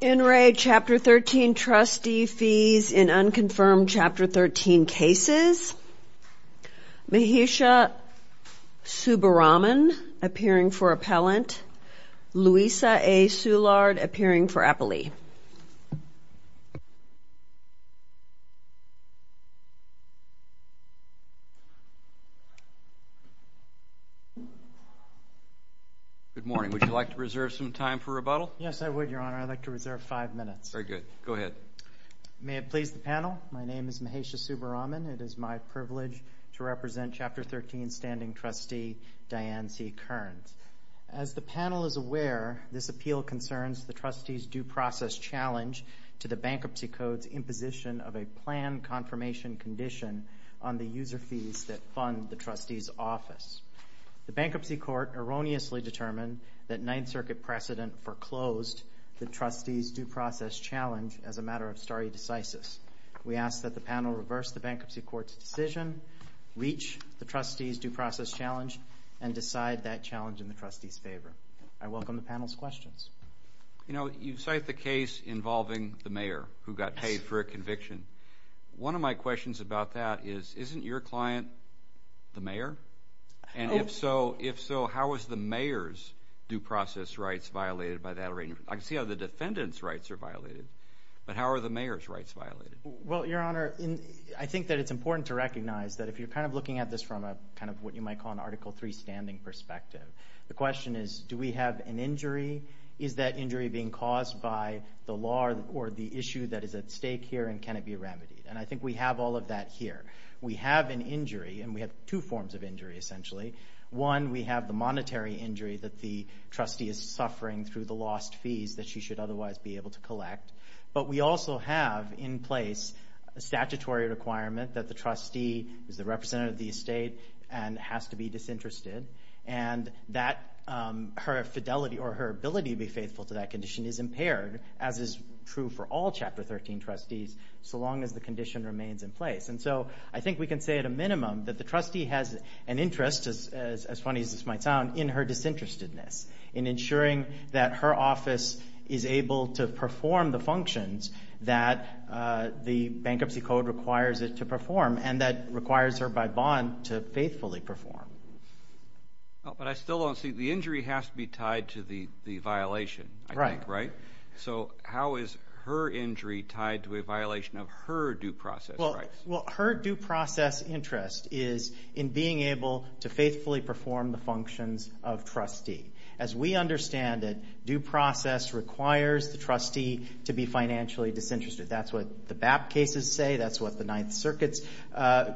In re Chapter 13 Trustee Fees in Unconfirmed Chapter 13 Cases. Mahesha Subbaraman appearing for Appellant. Louisa A. Szilard appearing for Appellee. Good morning. Would you like to reserve some time for rebuttal? Yes, I would, Your Honor. I'd like to reserve five minutes. Very good. Go ahead. May it please the panel, my name is Mahesha Subbaraman. It is my privilege to represent Chapter 13 Standing Trustee Diane C. Kearns. As the panel is aware, this appeal concerns the trustee's due process challenge to the Bankruptcy Code's imposition of a planned confirmation condition on the user fees that fund the trustee's office. The Bankruptcy Court erroneously determined that Ninth Circuit precedent foreclosed the trustee's due process challenge as a matter of stare decisis. We ask that the panel reverse the Bankruptcy Court's decision, reach the trustee's due process challenge, and provide that challenge in the trustee's favor. I welcome the panel's questions. You know, you cite the case involving the mayor who got paid for a conviction. One of my questions about that is, isn't your client the mayor? And if so, how is the mayor's due process rights violated by that arrangement? I can see how the defendant's rights are violated, but how are the mayor's rights violated? Well, Your Honor, I think that it's important to recognize that if you're kind of looking at this from a kind of what you might call an injury perspective, the question is, do we have an injury? Is that injury being caused by the law or the issue that is at stake here, and can it be remedied? And I think we have all of that here. We have an injury, and we have two forms of injury, essentially. One, we have the monetary injury that the trustee is suffering through the lost fees that she should otherwise be able to collect. But we also have in place a statutory requirement that the trustee is the representative of the estate and has to be disinterested, and that her fidelity or her ability to be faithful to that condition is impaired, as is true for all Chapter 13 trustees, so long as the condition remains in place. And so I think we can say at a minimum that the trustee has an interest, as funny as this might sound, in her disinterestedness, in ensuring that her office is able to perform the functions that the Bankruptcy Code requires it to perform, and that requires her by bond to faithfully perform. But I still don't see, the injury has to be tied to the violation, I think, right? So how is her injury tied to a violation of her due process rights? Well, her due process interest is in being able to faithfully perform the functions of trustee. As we understand it, due process requires the trustee to be financially disinterested. That's what the BAP cases say, that's what the Ninth Circuit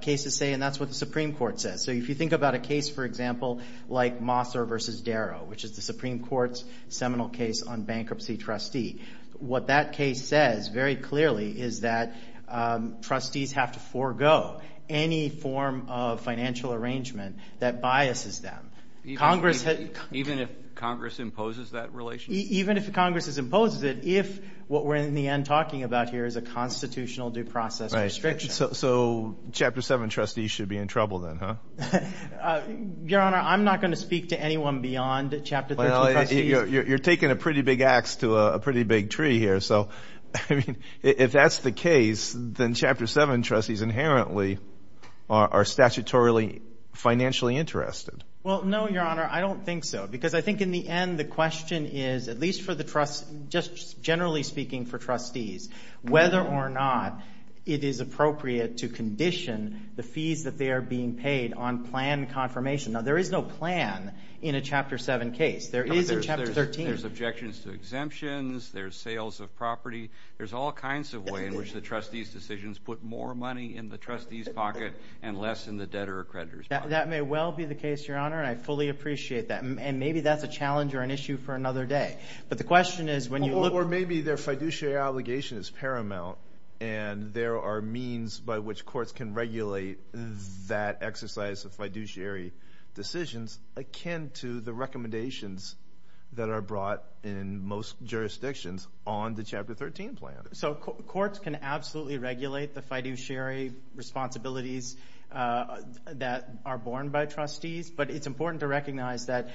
cases say, and that's what the Supreme Court says. So if you think about a case, for example, like Mosser v. Darrow, which is the Supreme Court's seminal case on bankruptcy trustee, what that case says very clearly is that trustees have to forego any form of financial arrangement that biases them. Even if Congress imposes that relationship? Even if Congress imposes it, if what we're in the end talking about here is a constitutional due process restriction. So Chapter 7 trustees should be in trouble then, huh? Your Honor, I'm not going to speak to anyone beyond Chapter 13 trustees. You're taking a pretty big ax to a pretty big tree here. So if that's the case, then Chapter 7 trustees inherently are statutorily financially interested. Well, no, Your Honor, I don't think so. Because I think in the end the question is, at least for the trust, just generally speaking for trustees, whether or not it is appropriate to condition the fees that they are being paid on plan confirmation. Now, there is no plan in a Chapter 7 case. There is in Chapter 13. There's objections to exemptions, there's sales of property, there's all kinds of ways in which the trustees' decisions put more money in the trustees' pocket and less in the debtor or creditor's pocket. That may well be the case, Your Honor, and I fully appreciate that. And maybe that's a challenge or an issue for another day. But the question is when you look... Or maybe their fiduciary obligation is paramount and there are means by which courts can regulate that exercise of fiduciary decisions akin to the recommendations that are brought in most jurisdictions on the Chapter 13 plan. So courts can absolutely regulate the fiduciary responsibilities that are borne by trustees. But it's important to recognize that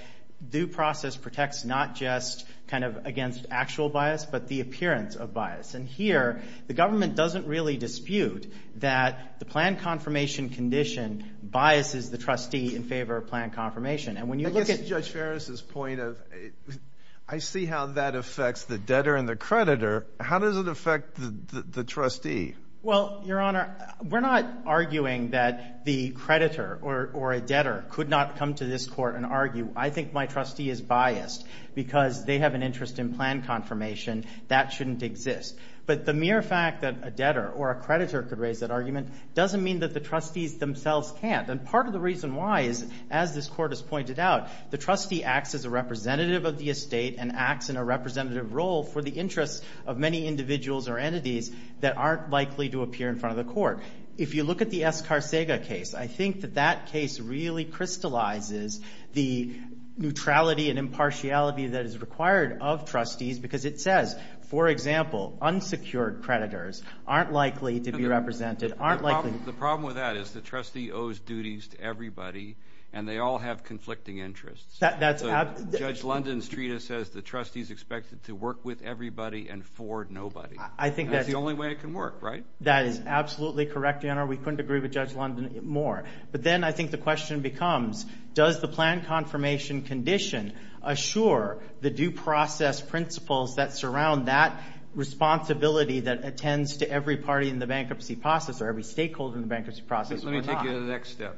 due process protects not just kind of against actual bias, but the appearance of bias. And here the government doesn't really dispute that the plan confirmation condition biases the trustee in favor of plan confirmation. And when you look at... I guess Judge Ferris' point of, I see how that affects the debtor and the creditor. How does it affect the trustee? Well, Your Honor, we're not arguing that the creditor or a debtor could not come to this court and argue, I think my trustee is biased because they have an interest in plan confirmation. That shouldn't exist. But the mere fact that a debtor or a creditor could raise that argument doesn't mean that the trustees themselves can't. And part of the reason why is, as this court has pointed out, the trustee acts as a representative of the estate and acts in a representative role for the interests of many individuals or entities that aren't likely to appear in front of the court. If you look at the Escarcega case, I think that that case really crystallizes the neutrality and impartiality that is required of trustees because it says, for example, unsecured creditors aren't likely to be represented, aren't likely... The problem with that is the trustee owes duties to everybody, and they all have conflicting interests. That's... Judge London's treatise says the trustee's expected to work with everybody and for nobody. I think that's... That's the only way it can work, right? That is absolutely correct, Your Honor. We couldn't agree with Judge London more. But then I think the question becomes, does the plan confirmation condition assure the due process principles that surround that responsibility that attends to every party in the bankruptcy process or every stakeholder in the bankruptcy process or not? I'll take you to the next step.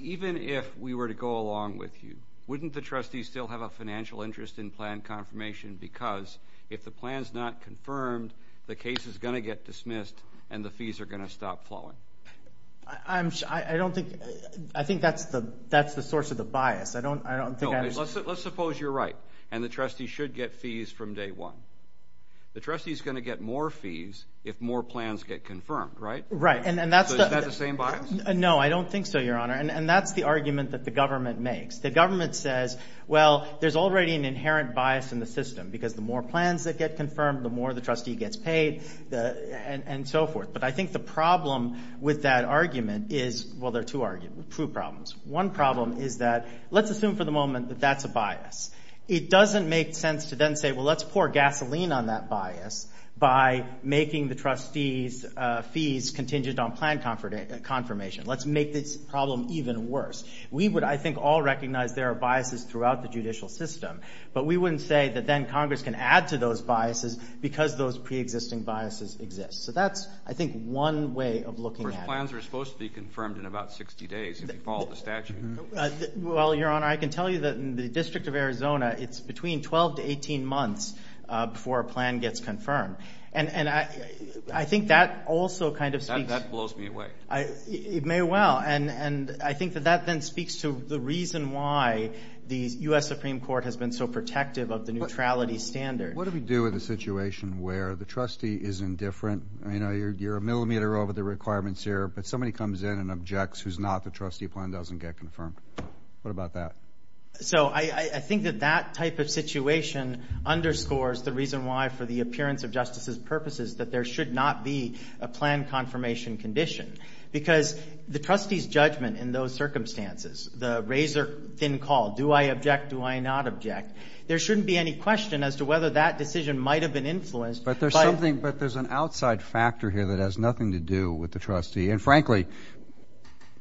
Even if we were to go along with you, wouldn't the trustee still have a financial interest in plan confirmation because if the plan's not confirmed, the case is going to get dismissed and the fees are going to stop flowing? I'm... I don't think... I think that's the source of the bias. I don't think I'm... Let's suppose you're right, and the trustee should get fees from day one. The trustee's going to get more fees if more plans get confirmed, right? Right, and that's the... So is that the same bias? No, I don't think so, Your Honor. And that's the argument that the government makes. The government says, well, there's already an inherent bias in the system because the more plans that get confirmed, the more the trustee gets paid and so forth. But I think the problem with that argument is... Well, there are two problems. One problem is that let's assume for the moment that that's a bias. It doesn't make sense to then say, well, let's pour gasoline on that bias by making the trustee's fees contingent on plan confirmation. Let's make this problem even worse. We would, I think, all recognize there are biases throughout the judicial system, but we wouldn't say that then Congress can add to those biases because those pre-existing biases exist. So that's, I think, one way of looking at it. But plans are supposed to be confirmed in about 60 days if you follow the statute. Well, Your Honor, I can tell you that in the District of Arizona, it's between 12 to 18 months before a plan gets confirmed. And I think that also kind of speaks... That blows me away. It may well. And I think that that then speaks to the reason why the U.S. Supreme Court has been so protective of the neutrality standard. What do we do with a situation where the trustee is indifferent? I mean, you're a millimeter over the requirements here, but somebody comes in and objects who's not the trustee plan doesn't get confirmed. What about that? So I think that that type of situation underscores the reason why, for the appearance of justice's purposes, that there should not be a plan confirmation condition. Because the trustee's judgment in those circumstances, the razor thin call, do I object, do I not object? There shouldn't be any question as to whether that decision might have been influenced by... But there's something, but there's an outside factor here that has nothing to do with the trustee. And frankly,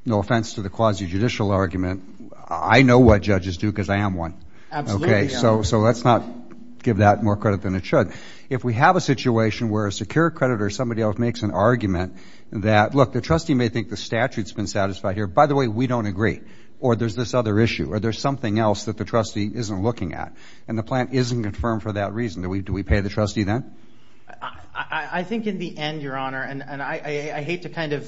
no offense to the quasi judicial argument. I know what judges do because I am one. Okay. So let's not give that more credit than it should. If we have a situation where a secure creditor, somebody else makes an argument that, look, the trustee may think the statute's been satisfied here. By the way, we don't agree. Or there's this other issue. Or there's something else that the trustee isn't looking at. And the plan isn't confirmed for that reason. Do we pay the trustee then? I think in the end, Your Honor, and I hate to kind of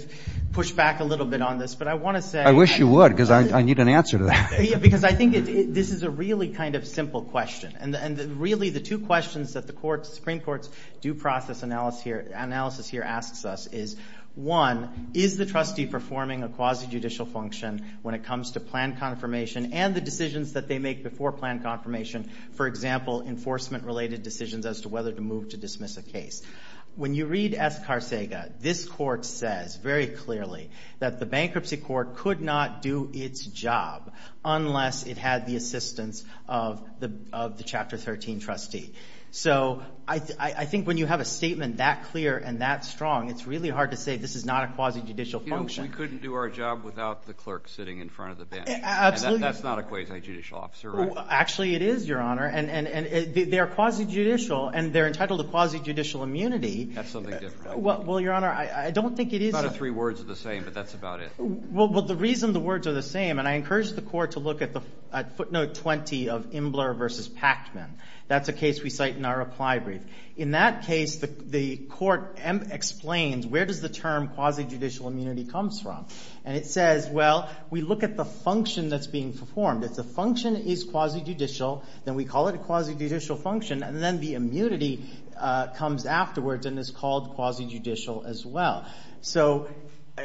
push back a little bit on this, but I want to say... I wish you would, because I need an answer to that. Because I think this is a really kind of simple question. And really, the two questions that the Supreme Court's due process analysis here asks us is, one, is the trustee performing a quasi judicial function when it comes to plan confirmation and the decisions that they make before plan confirmation? For example, enforcement related decisions as to whether to move to dismiss a case. When you read S. Carsega, this court says very clearly that the bankruptcy court could not do its job unless it had the assistance of the Chapter 13 trustee. So I think when you have a statement that clear and that strong, it's really hard to say this is not a quasi judicial function. You know, we couldn't do our job without the clerk sitting in front of the bench. Absolutely. And that's not a quasi judicial officer, right? Actually, it is, Your Honor. And they're quasi judicial, and they're entitled to quasi judicial immunity. That's something different. Well, Your Honor, I don't think it is... The other three words are the same, but that's about it. Well, the reason the words are the same, and I encourage the court to look at footnote 20 of Imbler v. Pactman. That's a case we cite in our reply brief. In that case, the court explains where does the term quasi judicial immunity comes from. And it says, well, we look at the function that's being performed. If the function is quasi judicial, then we call it a quasi judicial function, and then the immunity comes afterwards and is called quasi judicial as well. So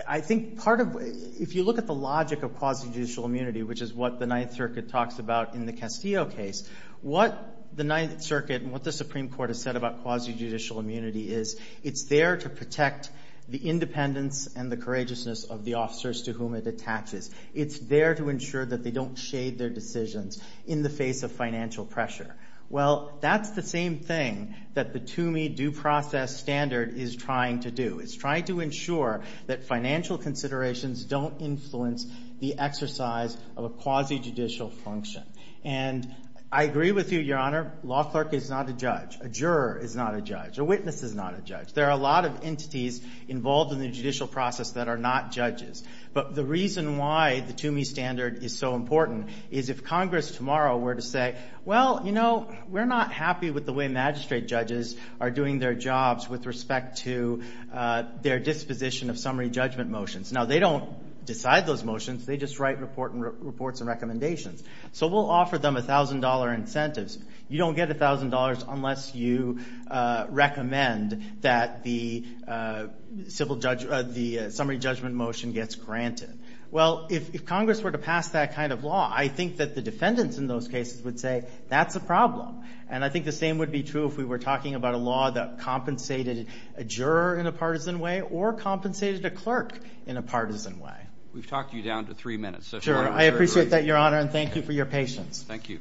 I think part of... If you look at the logic of quasi judicial immunity, which is what the Ninth Circuit talks about in the Castillo case, what the Ninth Circuit and what the Supreme Court has said about quasi judicial immunity is, it's there to protect the independence and the courageousness of the officers to whom it attaches. It's there to ensure that they don't shade their decisions in the face of financial pressure. Well, that's the same thing that the Toomey due process standard is trying to do. It's trying to ensure that financial considerations don't influence the exercise of a quasi judicial function. And I agree with you, Your Honor, a law clerk is not a judge. A juror is not a judge. A witness is not a judge. There are a lot of entities involved in the judicial process that are not judges. But the reason why the Toomey standard is so important is if Congress tomorrow were to say, well, you know, we're not happy with the way magistrate judges are doing their jobs with respect to their disposition of summary judgment motions. Now, they don't decide those motions. They just write reports and recommendations. So we'll offer them $1,000 incentives. You don't get $1,000 unless you recommend that the summary judgment motion gets granted. Well, if Congress were to pass that kind of law, I think that the defendants in those cases would say, that's a problem. And I think the same would be true if we were talking about a law that compensated a juror in a partisan way or compensated a clerk in a partisan way. We've talked you down to three minutes. Sure. I appreciate that, Your Honor, and thank you for your patience. Thank you.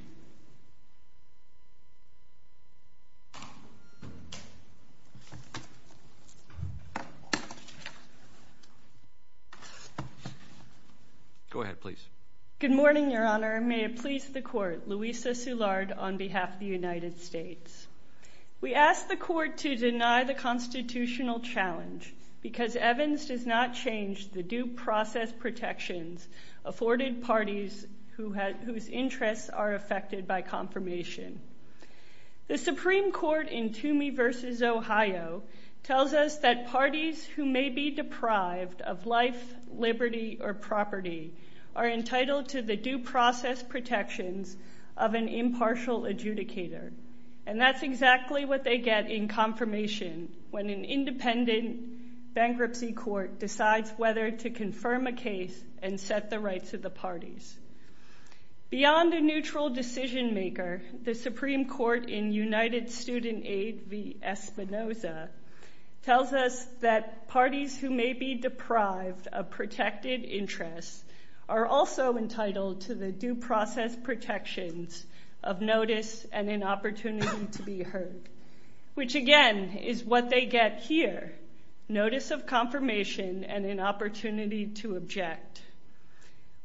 Go ahead, please. Good morning, Your Honor. May it please the Court. Louisa Soulard on behalf of the United States. We ask the Court to deny the constitutional challenge because Evans does not change the due process protections afforded parties whose interests are affected by confirmation. The Supreme Court in Toomey v. Ohio tells us that parties who may be deprived of life, liberty, or property are entitled to the due process protections of an impartial adjudicator. And that's exactly what they get in confirmation when an independent bankruptcy court decides whether to confirm a case and set the rights of the parties. Beyond a neutral decision maker, the Supreme Court in United Student Aid v. Espinoza tells us that parties who may be deprived of protected interests are also entitled to the due process protections of notice and an opportunity to be heard, which, again, is what they get here, notice of confirmation and an opportunity to object.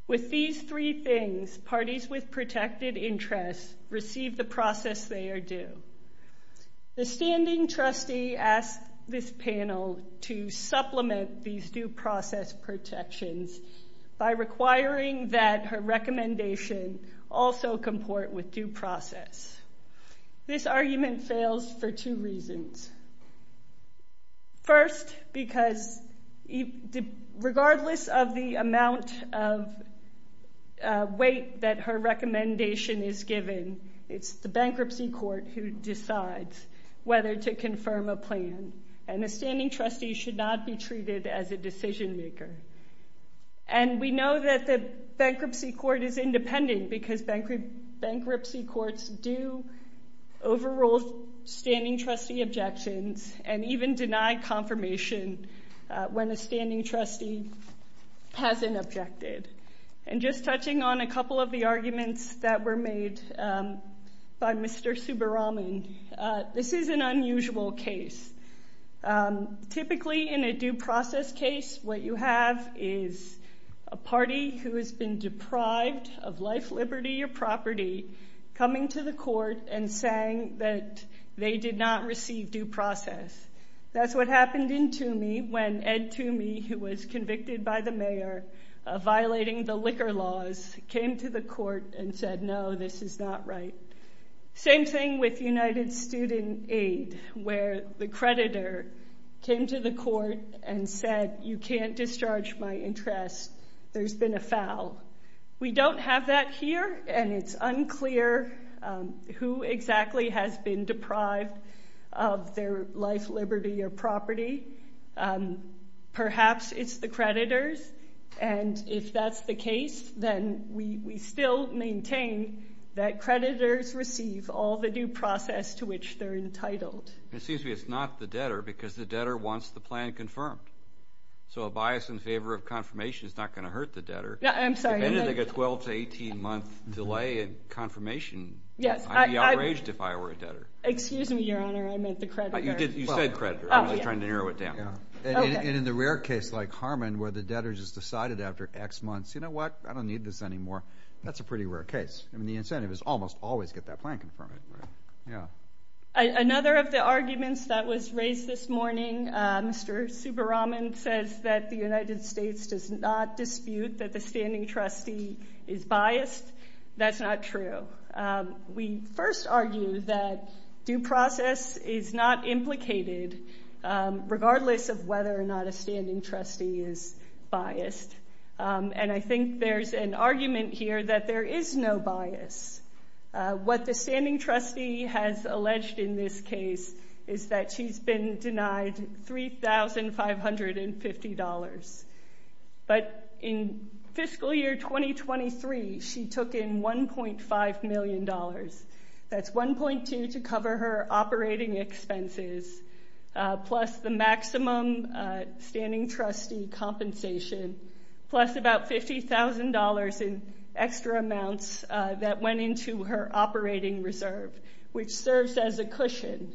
With these three things, parties with protected interests receive the process they are due. The standing trustee asked this panel to supplement these due process protections by requiring that her recommendation also comport with due process. This argument fails for two reasons. First, because regardless of the amount of weight that her recommendation is given, it's the bankruptcy court who decides whether to confirm a plan. And a standing trustee should not be treated as a decision maker. And we know that the bankruptcy court is independent because bankruptcy courts do overrule standing trustee objections and even deny confirmation when a standing trustee hasn't objected. And just touching on a couple of the arguments that were made by Mr. Subbaraman, this is an unusual case. Typically, in a due process case, what you have is a party who has been deprived of life, liberty, or property coming to the court and saying that they did not receive due process. That's what happened in Toomey when Ed Toomey, who was convicted by the mayor of violating the liquor laws, came to the court and said, no, this is not right. Same thing with United Student Aid where the creditor came to the court and said, you can't discharge my interest. There's been a foul. We don't have that here and it's unclear who exactly has been deprived of their life, liberty, or property. Perhaps it's the creditor and if that's the case, then we still maintain that creditors receive all the due process to which they're entitled. It seems to me it's not the debtor because the debtor wants the plan confirmed. So a bias in favor of confirmation is not going to hurt the debtor. I'm sorry. If they get a 12 to 18 month delay in confirmation, I'd be outraged if I were a debtor. Excuse me, Your Honor. I meant the creditor. You said creditor. I'm just trying to narrow it down. In the rare case like Harmon where the debtor just decided after X months, you know what, I don't need this anymore. That's a pretty rare case. The incentive is almost always get that plan confirmed. Another of the arguments that was raised this morning, Mr. Subbaraman says that the United States does not dispute that the standing trustee is biased. That's not true. We first argue that due process is not implicated regardless of whether or not a standing trustee is biased. And I think there's an argument here that there is no bias. What the standing trustee has alleged in this case is that she's been denied $3,550. But in fiscal year 2023, she took in $1.5 million. That's 1.2 to cover her operating expenses, plus the maximum standing trustee compensation, plus about $50,000 in extra amounts that went into her operating reserve, which serves as a cushion.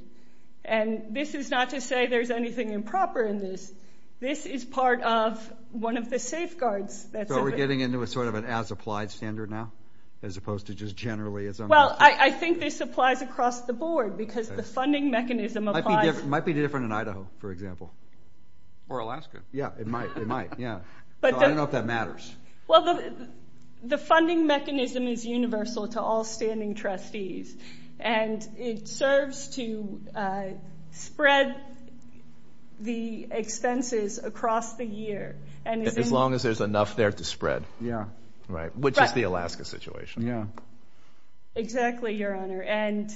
And this is not to say there's anything improper in this. This is part of one of the safeguards. So we're getting into a sort of an as-applied standard now, as opposed to just generally as on this? Well, I think this applies across the board, because the funding mechanism applies. It might be different in Idaho, for example. Or Alaska. Yeah, it might. So I don't know if that matters. Well, the funding mechanism is universal to all standing trustees. And it serves to spread the expenses across the year. As long as there's enough there to spread. Yeah. Right. Which is the Alaska situation. Exactly, Your Honor. And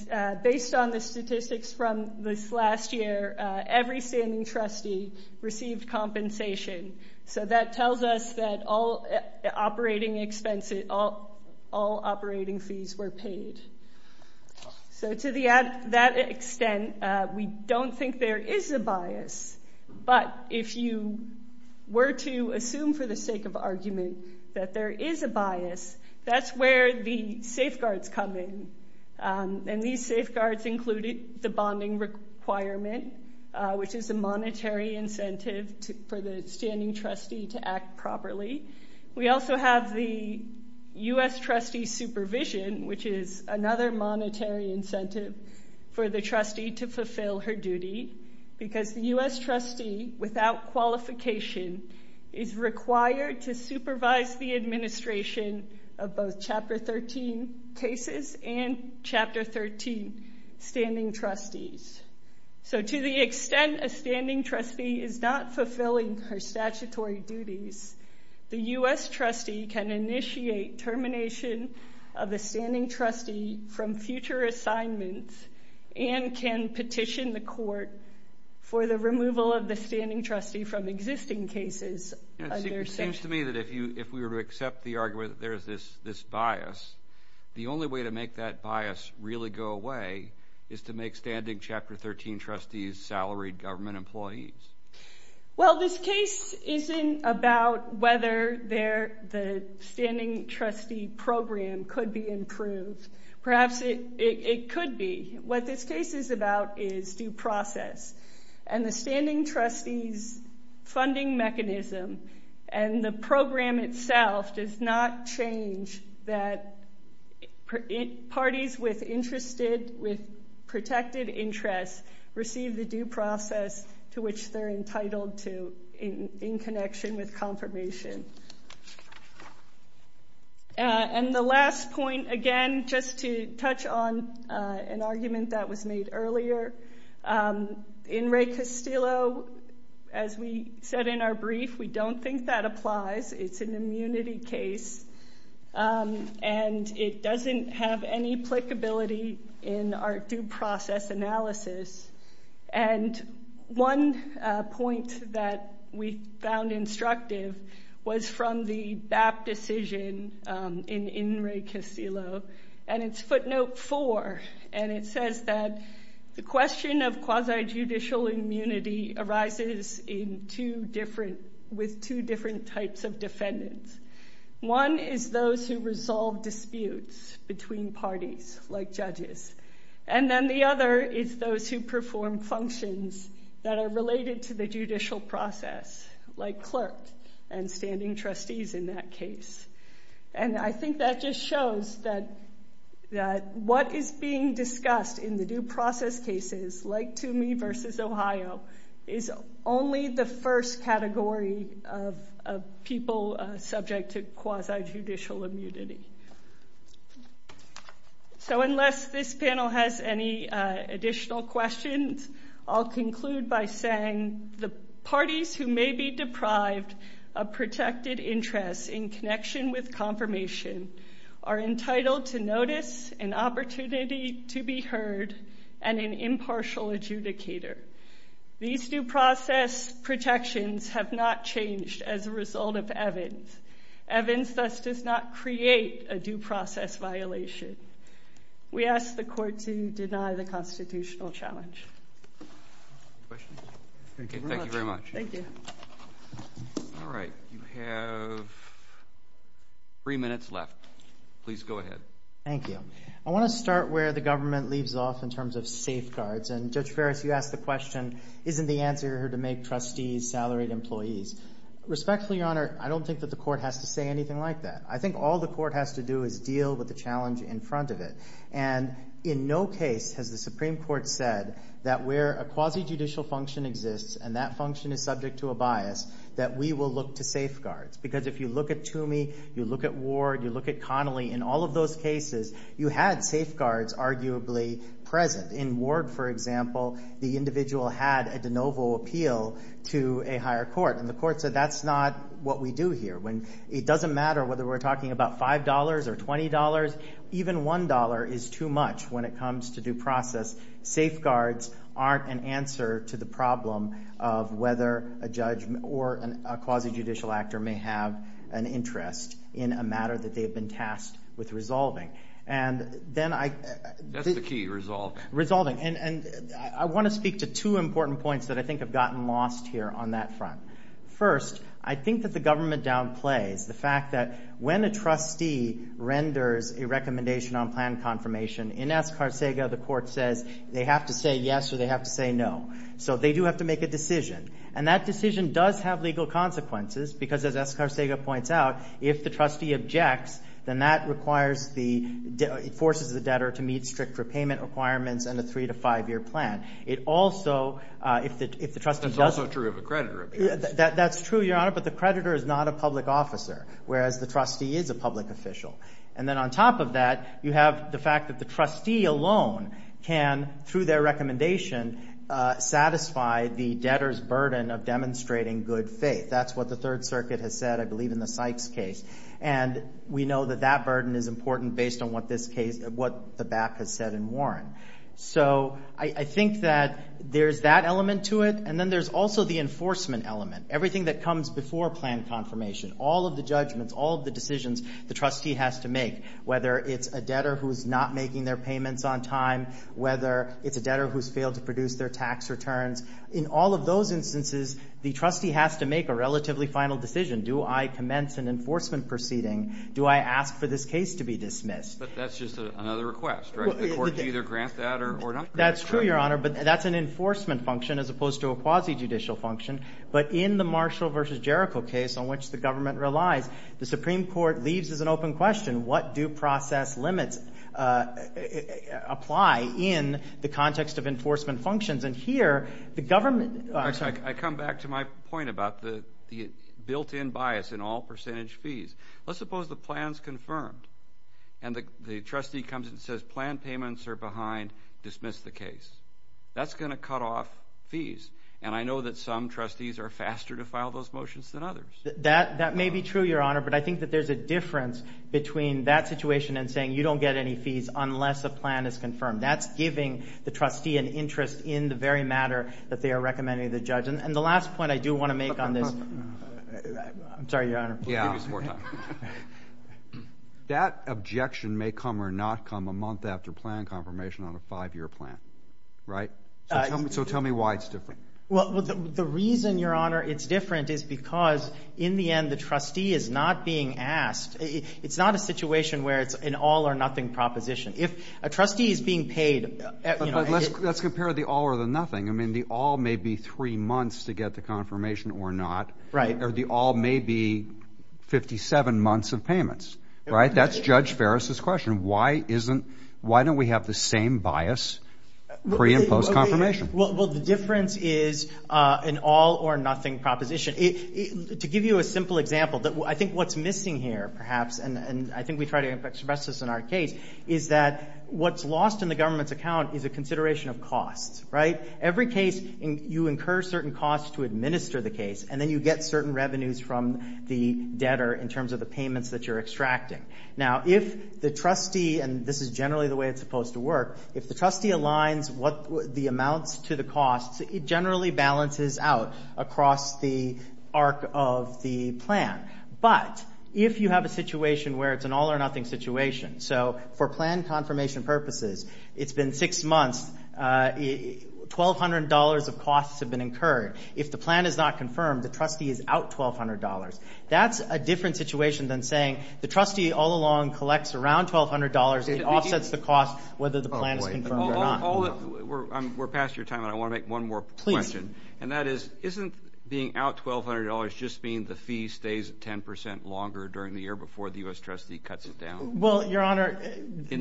based on the statistics from this last year, every standing trustee received compensation. So that tells us that all operating fees were paid. So to that extent, we don't think there is a bias. But if you were to assume for the sake of argument that there is a bias, that's where the safeguards come in. And these safeguards included the bonding requirement, which is a monetary incentive for the standing trustee to act properly. We also have the U.S. trustee supervision, which is another monetary incentive for the standing trustee to fulfill her duty. Because the U.S. trustee, without qualification, is required to supervise the administration of both Chapter 13 cases and Chapter 13 standing trustees. So to the extent a standing trustee is not fulfilling her statutory duties, the U.S. trustee can initiate termination of the standing trustee from future assignments and can petition the court for the removal of the standing trustee from existing cases. It seems to me that if we were to accept the argument that there is this bias, the only way to make that bias really go away is to make standing Chapter 13 trustees salaried government employees. Well, this case isn't about whether the standing trustee program could be improved. Perhaps it could be. What this case is about is due process. And the standing trustee's funding mechanism and the program itself does not change that parties with protected interests receive the due process to which they're entitled to in connection with confirmation. And the last point, again, just to touch on an argument that was made earlier, in Ray Castillo, as we said in our brief, we don't think that applies. It's an immunity case. And it doesn't have any applicability in our due process analysis. And one point that we found instructive was from the BAP decision in Ray Castillo. And it's footnote 4. And it says that the question of quasi-judicial immunity arises with two different types of defendants. One is those who resolve disputes between parties, like judges. And then the other is those who perform functions that are related to the judicial process, like clerk and standing trustees in that case. And I think that just shows that what is being discussed in the due process cases, like to me versus Ohio, is only the first category of people subject to quasi-judicial immunity. So unless this panel has any additional questions, I'll conclude by saying the parties who may be deprived of protected interests in connection with confirmation are entitled to notice, an opportunity to be heard, and an impartial adjudicator. These due process protections have not changed as a result of Evans. Evans thus does not create a due process violation. We ask the court to deny the constitutional challenge. Thank you very much. Thank you. All right. You have three minutes left. Please go ahead. Thank you. I want to start where the government leaves off in terms of safeguards. And Judge Ferris, you asked the question, isn't the answer here to make trustees salaried employees? Respectfully, Your Honor, I don't think that the court has to say anything like that. I think all the court has to do is deal with the challenge in front of it. And in no case has the Supreme Court said that where a quasi-judicial function exists, and that function is subject to a bias, that we will look to safeguards. Because if you look at Toomey, you look at Ward, you look at Connolly, in all of those cases, you had safeguards arguably present. In Ward, for example, the individual had a de novo appeal to a higher court. And the court said that's not what we do here. It doesn't matter whether we're talking about $5 or $20. Even $1 is too much when it comes to due process. Safeguards aren't an answer to the problem of whether a judge or a quasi-judicial actor may have an interest in a matter that they've been tasked with resolving. And then I... That's the key, resolving. Resolving. And I want to speak to two important points that I think have gotten lost here on that front. First, I think that the government downplays the fact that when a trustee renders a recommendation on plan confirmation, in Escarcega, the court says they have to say yes or they have to say no. So they do have to make a decision. And that decision does have legal consequences because, as Escarcega points out, if the trustee objects, then that requires the... It forces the debtor to meet strict repayment requirements and a three- to five-year plan. It also... If the trustee doesn't... That's also true of a creditor. That's true, Your Honor, but the creditor is not a public officer, whereas the trustee is a public official. And then on top of that, you have the fact that the trustee alone can, through their recommendation, satisfy the debtor's burden of demonstrating good faith. That's what the Third Circuit has said, I believe, in the Sykes case. And we know that that burden is important based on what this case... What the back has said in Warren. So I think that there's that element to it, and then there's also the enforcement element. Everything that comes before plan confirmation, all of the judgments, all of the decisions the trustee has to make, whether it's a debtor who's not making their payments on time, whether it's a debtor who's failed to produce their tax returns. In all of those instances, the trustee has to make a relatively final decision. Do I commence an enforcement proceeding? Do I ask for this case to be dismissed? But that's just another request, right? The court can either grant that or not grant it. That's true, Your Honor, but that's an enforcement function as opposed to a quasi-judicial function. But in the Marshall v. Jericho case, on which the government relies, the Supreme Court leaves this as an open question, what do process limits apply in the context of enforcement functions? And here, the government... I come back to my point about the built-in bias in all percentage fees. Let's suppose the plan's confirmed, and the trustee comes and says, plan payments are behind, dismiss the case. That's going to cut off fees. And I know that some trustees are faster to file those motions than others. That may be true, Your Honor, but I think that there's a difference between that situation and saying you don't get any fees unless a plan is confirmed. That's giving the trustee an interest in the very matter that they are recommending to the judge. And the last point I do want to make on this... I'm sorry, Your Honor. Yeah. That objection may come or not come a month after plan confirmation on a five-year plan, right? So tell me why it's different. Well, the reason, Your Honor, it's different is because, in the end, the trustee is not being asked. It's not a situation where it's an all-or-nothing proposition. If a trustee is being paid... But let's compare the all or the nothing. I mean, the all may be three months to get the confirmation or not. Right. Or the all may be 57 months of payments, right? That's Judge Ferris' question. Why don't we have the same bias pre- and post-confirmation? Well, the difference is an all-or-nothing proposition. To give you a simple example, I think what's missing here, perhaps, and I think we try to express this in our case, is that what's lost in the government's account is a consideration of costs, right? Every case, you incur certain costs to administer the case, and then you get certain revenues from the debtor in terms of the payments that you're extracting. Now, if the trustee, and this is generally the way it's supposed to work, if the trustee aligns the amounts to the costs, it generally balances out across the arc of the plan. But if you have a situation where it's an all-or-nothing situation, so for plan confirmation purposes, it's been six months, $1,200 of costs have been incurred. If the plan is not confirmed, the trustee is out $1,200. That's a different situation than saying the trustee all along collects around $1,200, it offsets the cost whether the plan is confirmed or not. We're past your time, and I want to make one more question. And that is, isn't being out $1,200 just being the fee stays 10% longer during the year before the U.S. trustee cuts it down? Well, Your Honor. At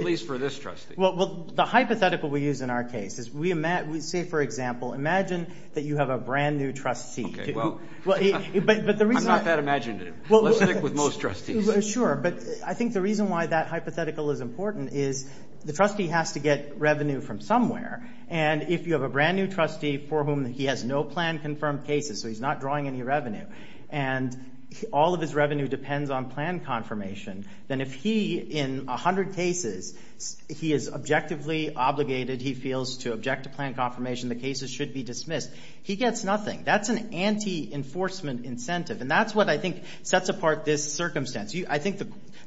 least for this trustee. Well, the hypothetical we use in our case is we say, for example, imagine that you have a brand-new trustee. Okay, well, I'm not that imaginative. Let's stick with most trustees. Sure, but I think the reason why that hypothetical is important is the trustee has to get revenue from somewhere. And if you have a brand-new trustee for whom he has no plan-confirmed cases, so he's not drawing any revenue, and all of his revenue depends on plan confirmation, then if he, in 100 cases, he is objectively obligated, he feels, to object to plan confirmation, the cases should be dismissed, he gets nothing. That's an anti-enforcement incentive, and that's what I think sets apart this circumstance. I think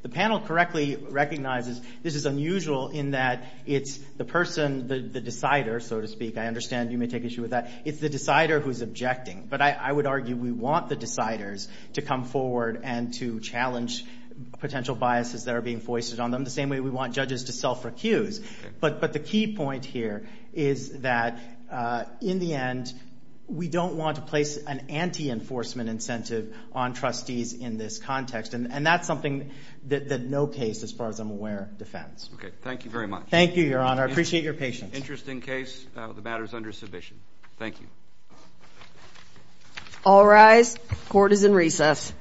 the panel correctly recognizes this is unusual in that it's the person, the decider, so to speak. I understand you may take issue with that. It's the decider who's objecting. But I would argue we want the deciders to come forward and to challenge potential biases that are being foisted on them, the same way we want judges to self-recuse. But the key point here is that, in the end, we don't want to place an anti-enforcement incentive on trustees in this context. And that's something that no case, as far as I'm aware, defends. Okay. Thank you very much. Thank you, Your Honor. I appreciate your patience. Interesting case. The matter is under submission. Thank you. All rise. Court is in recess.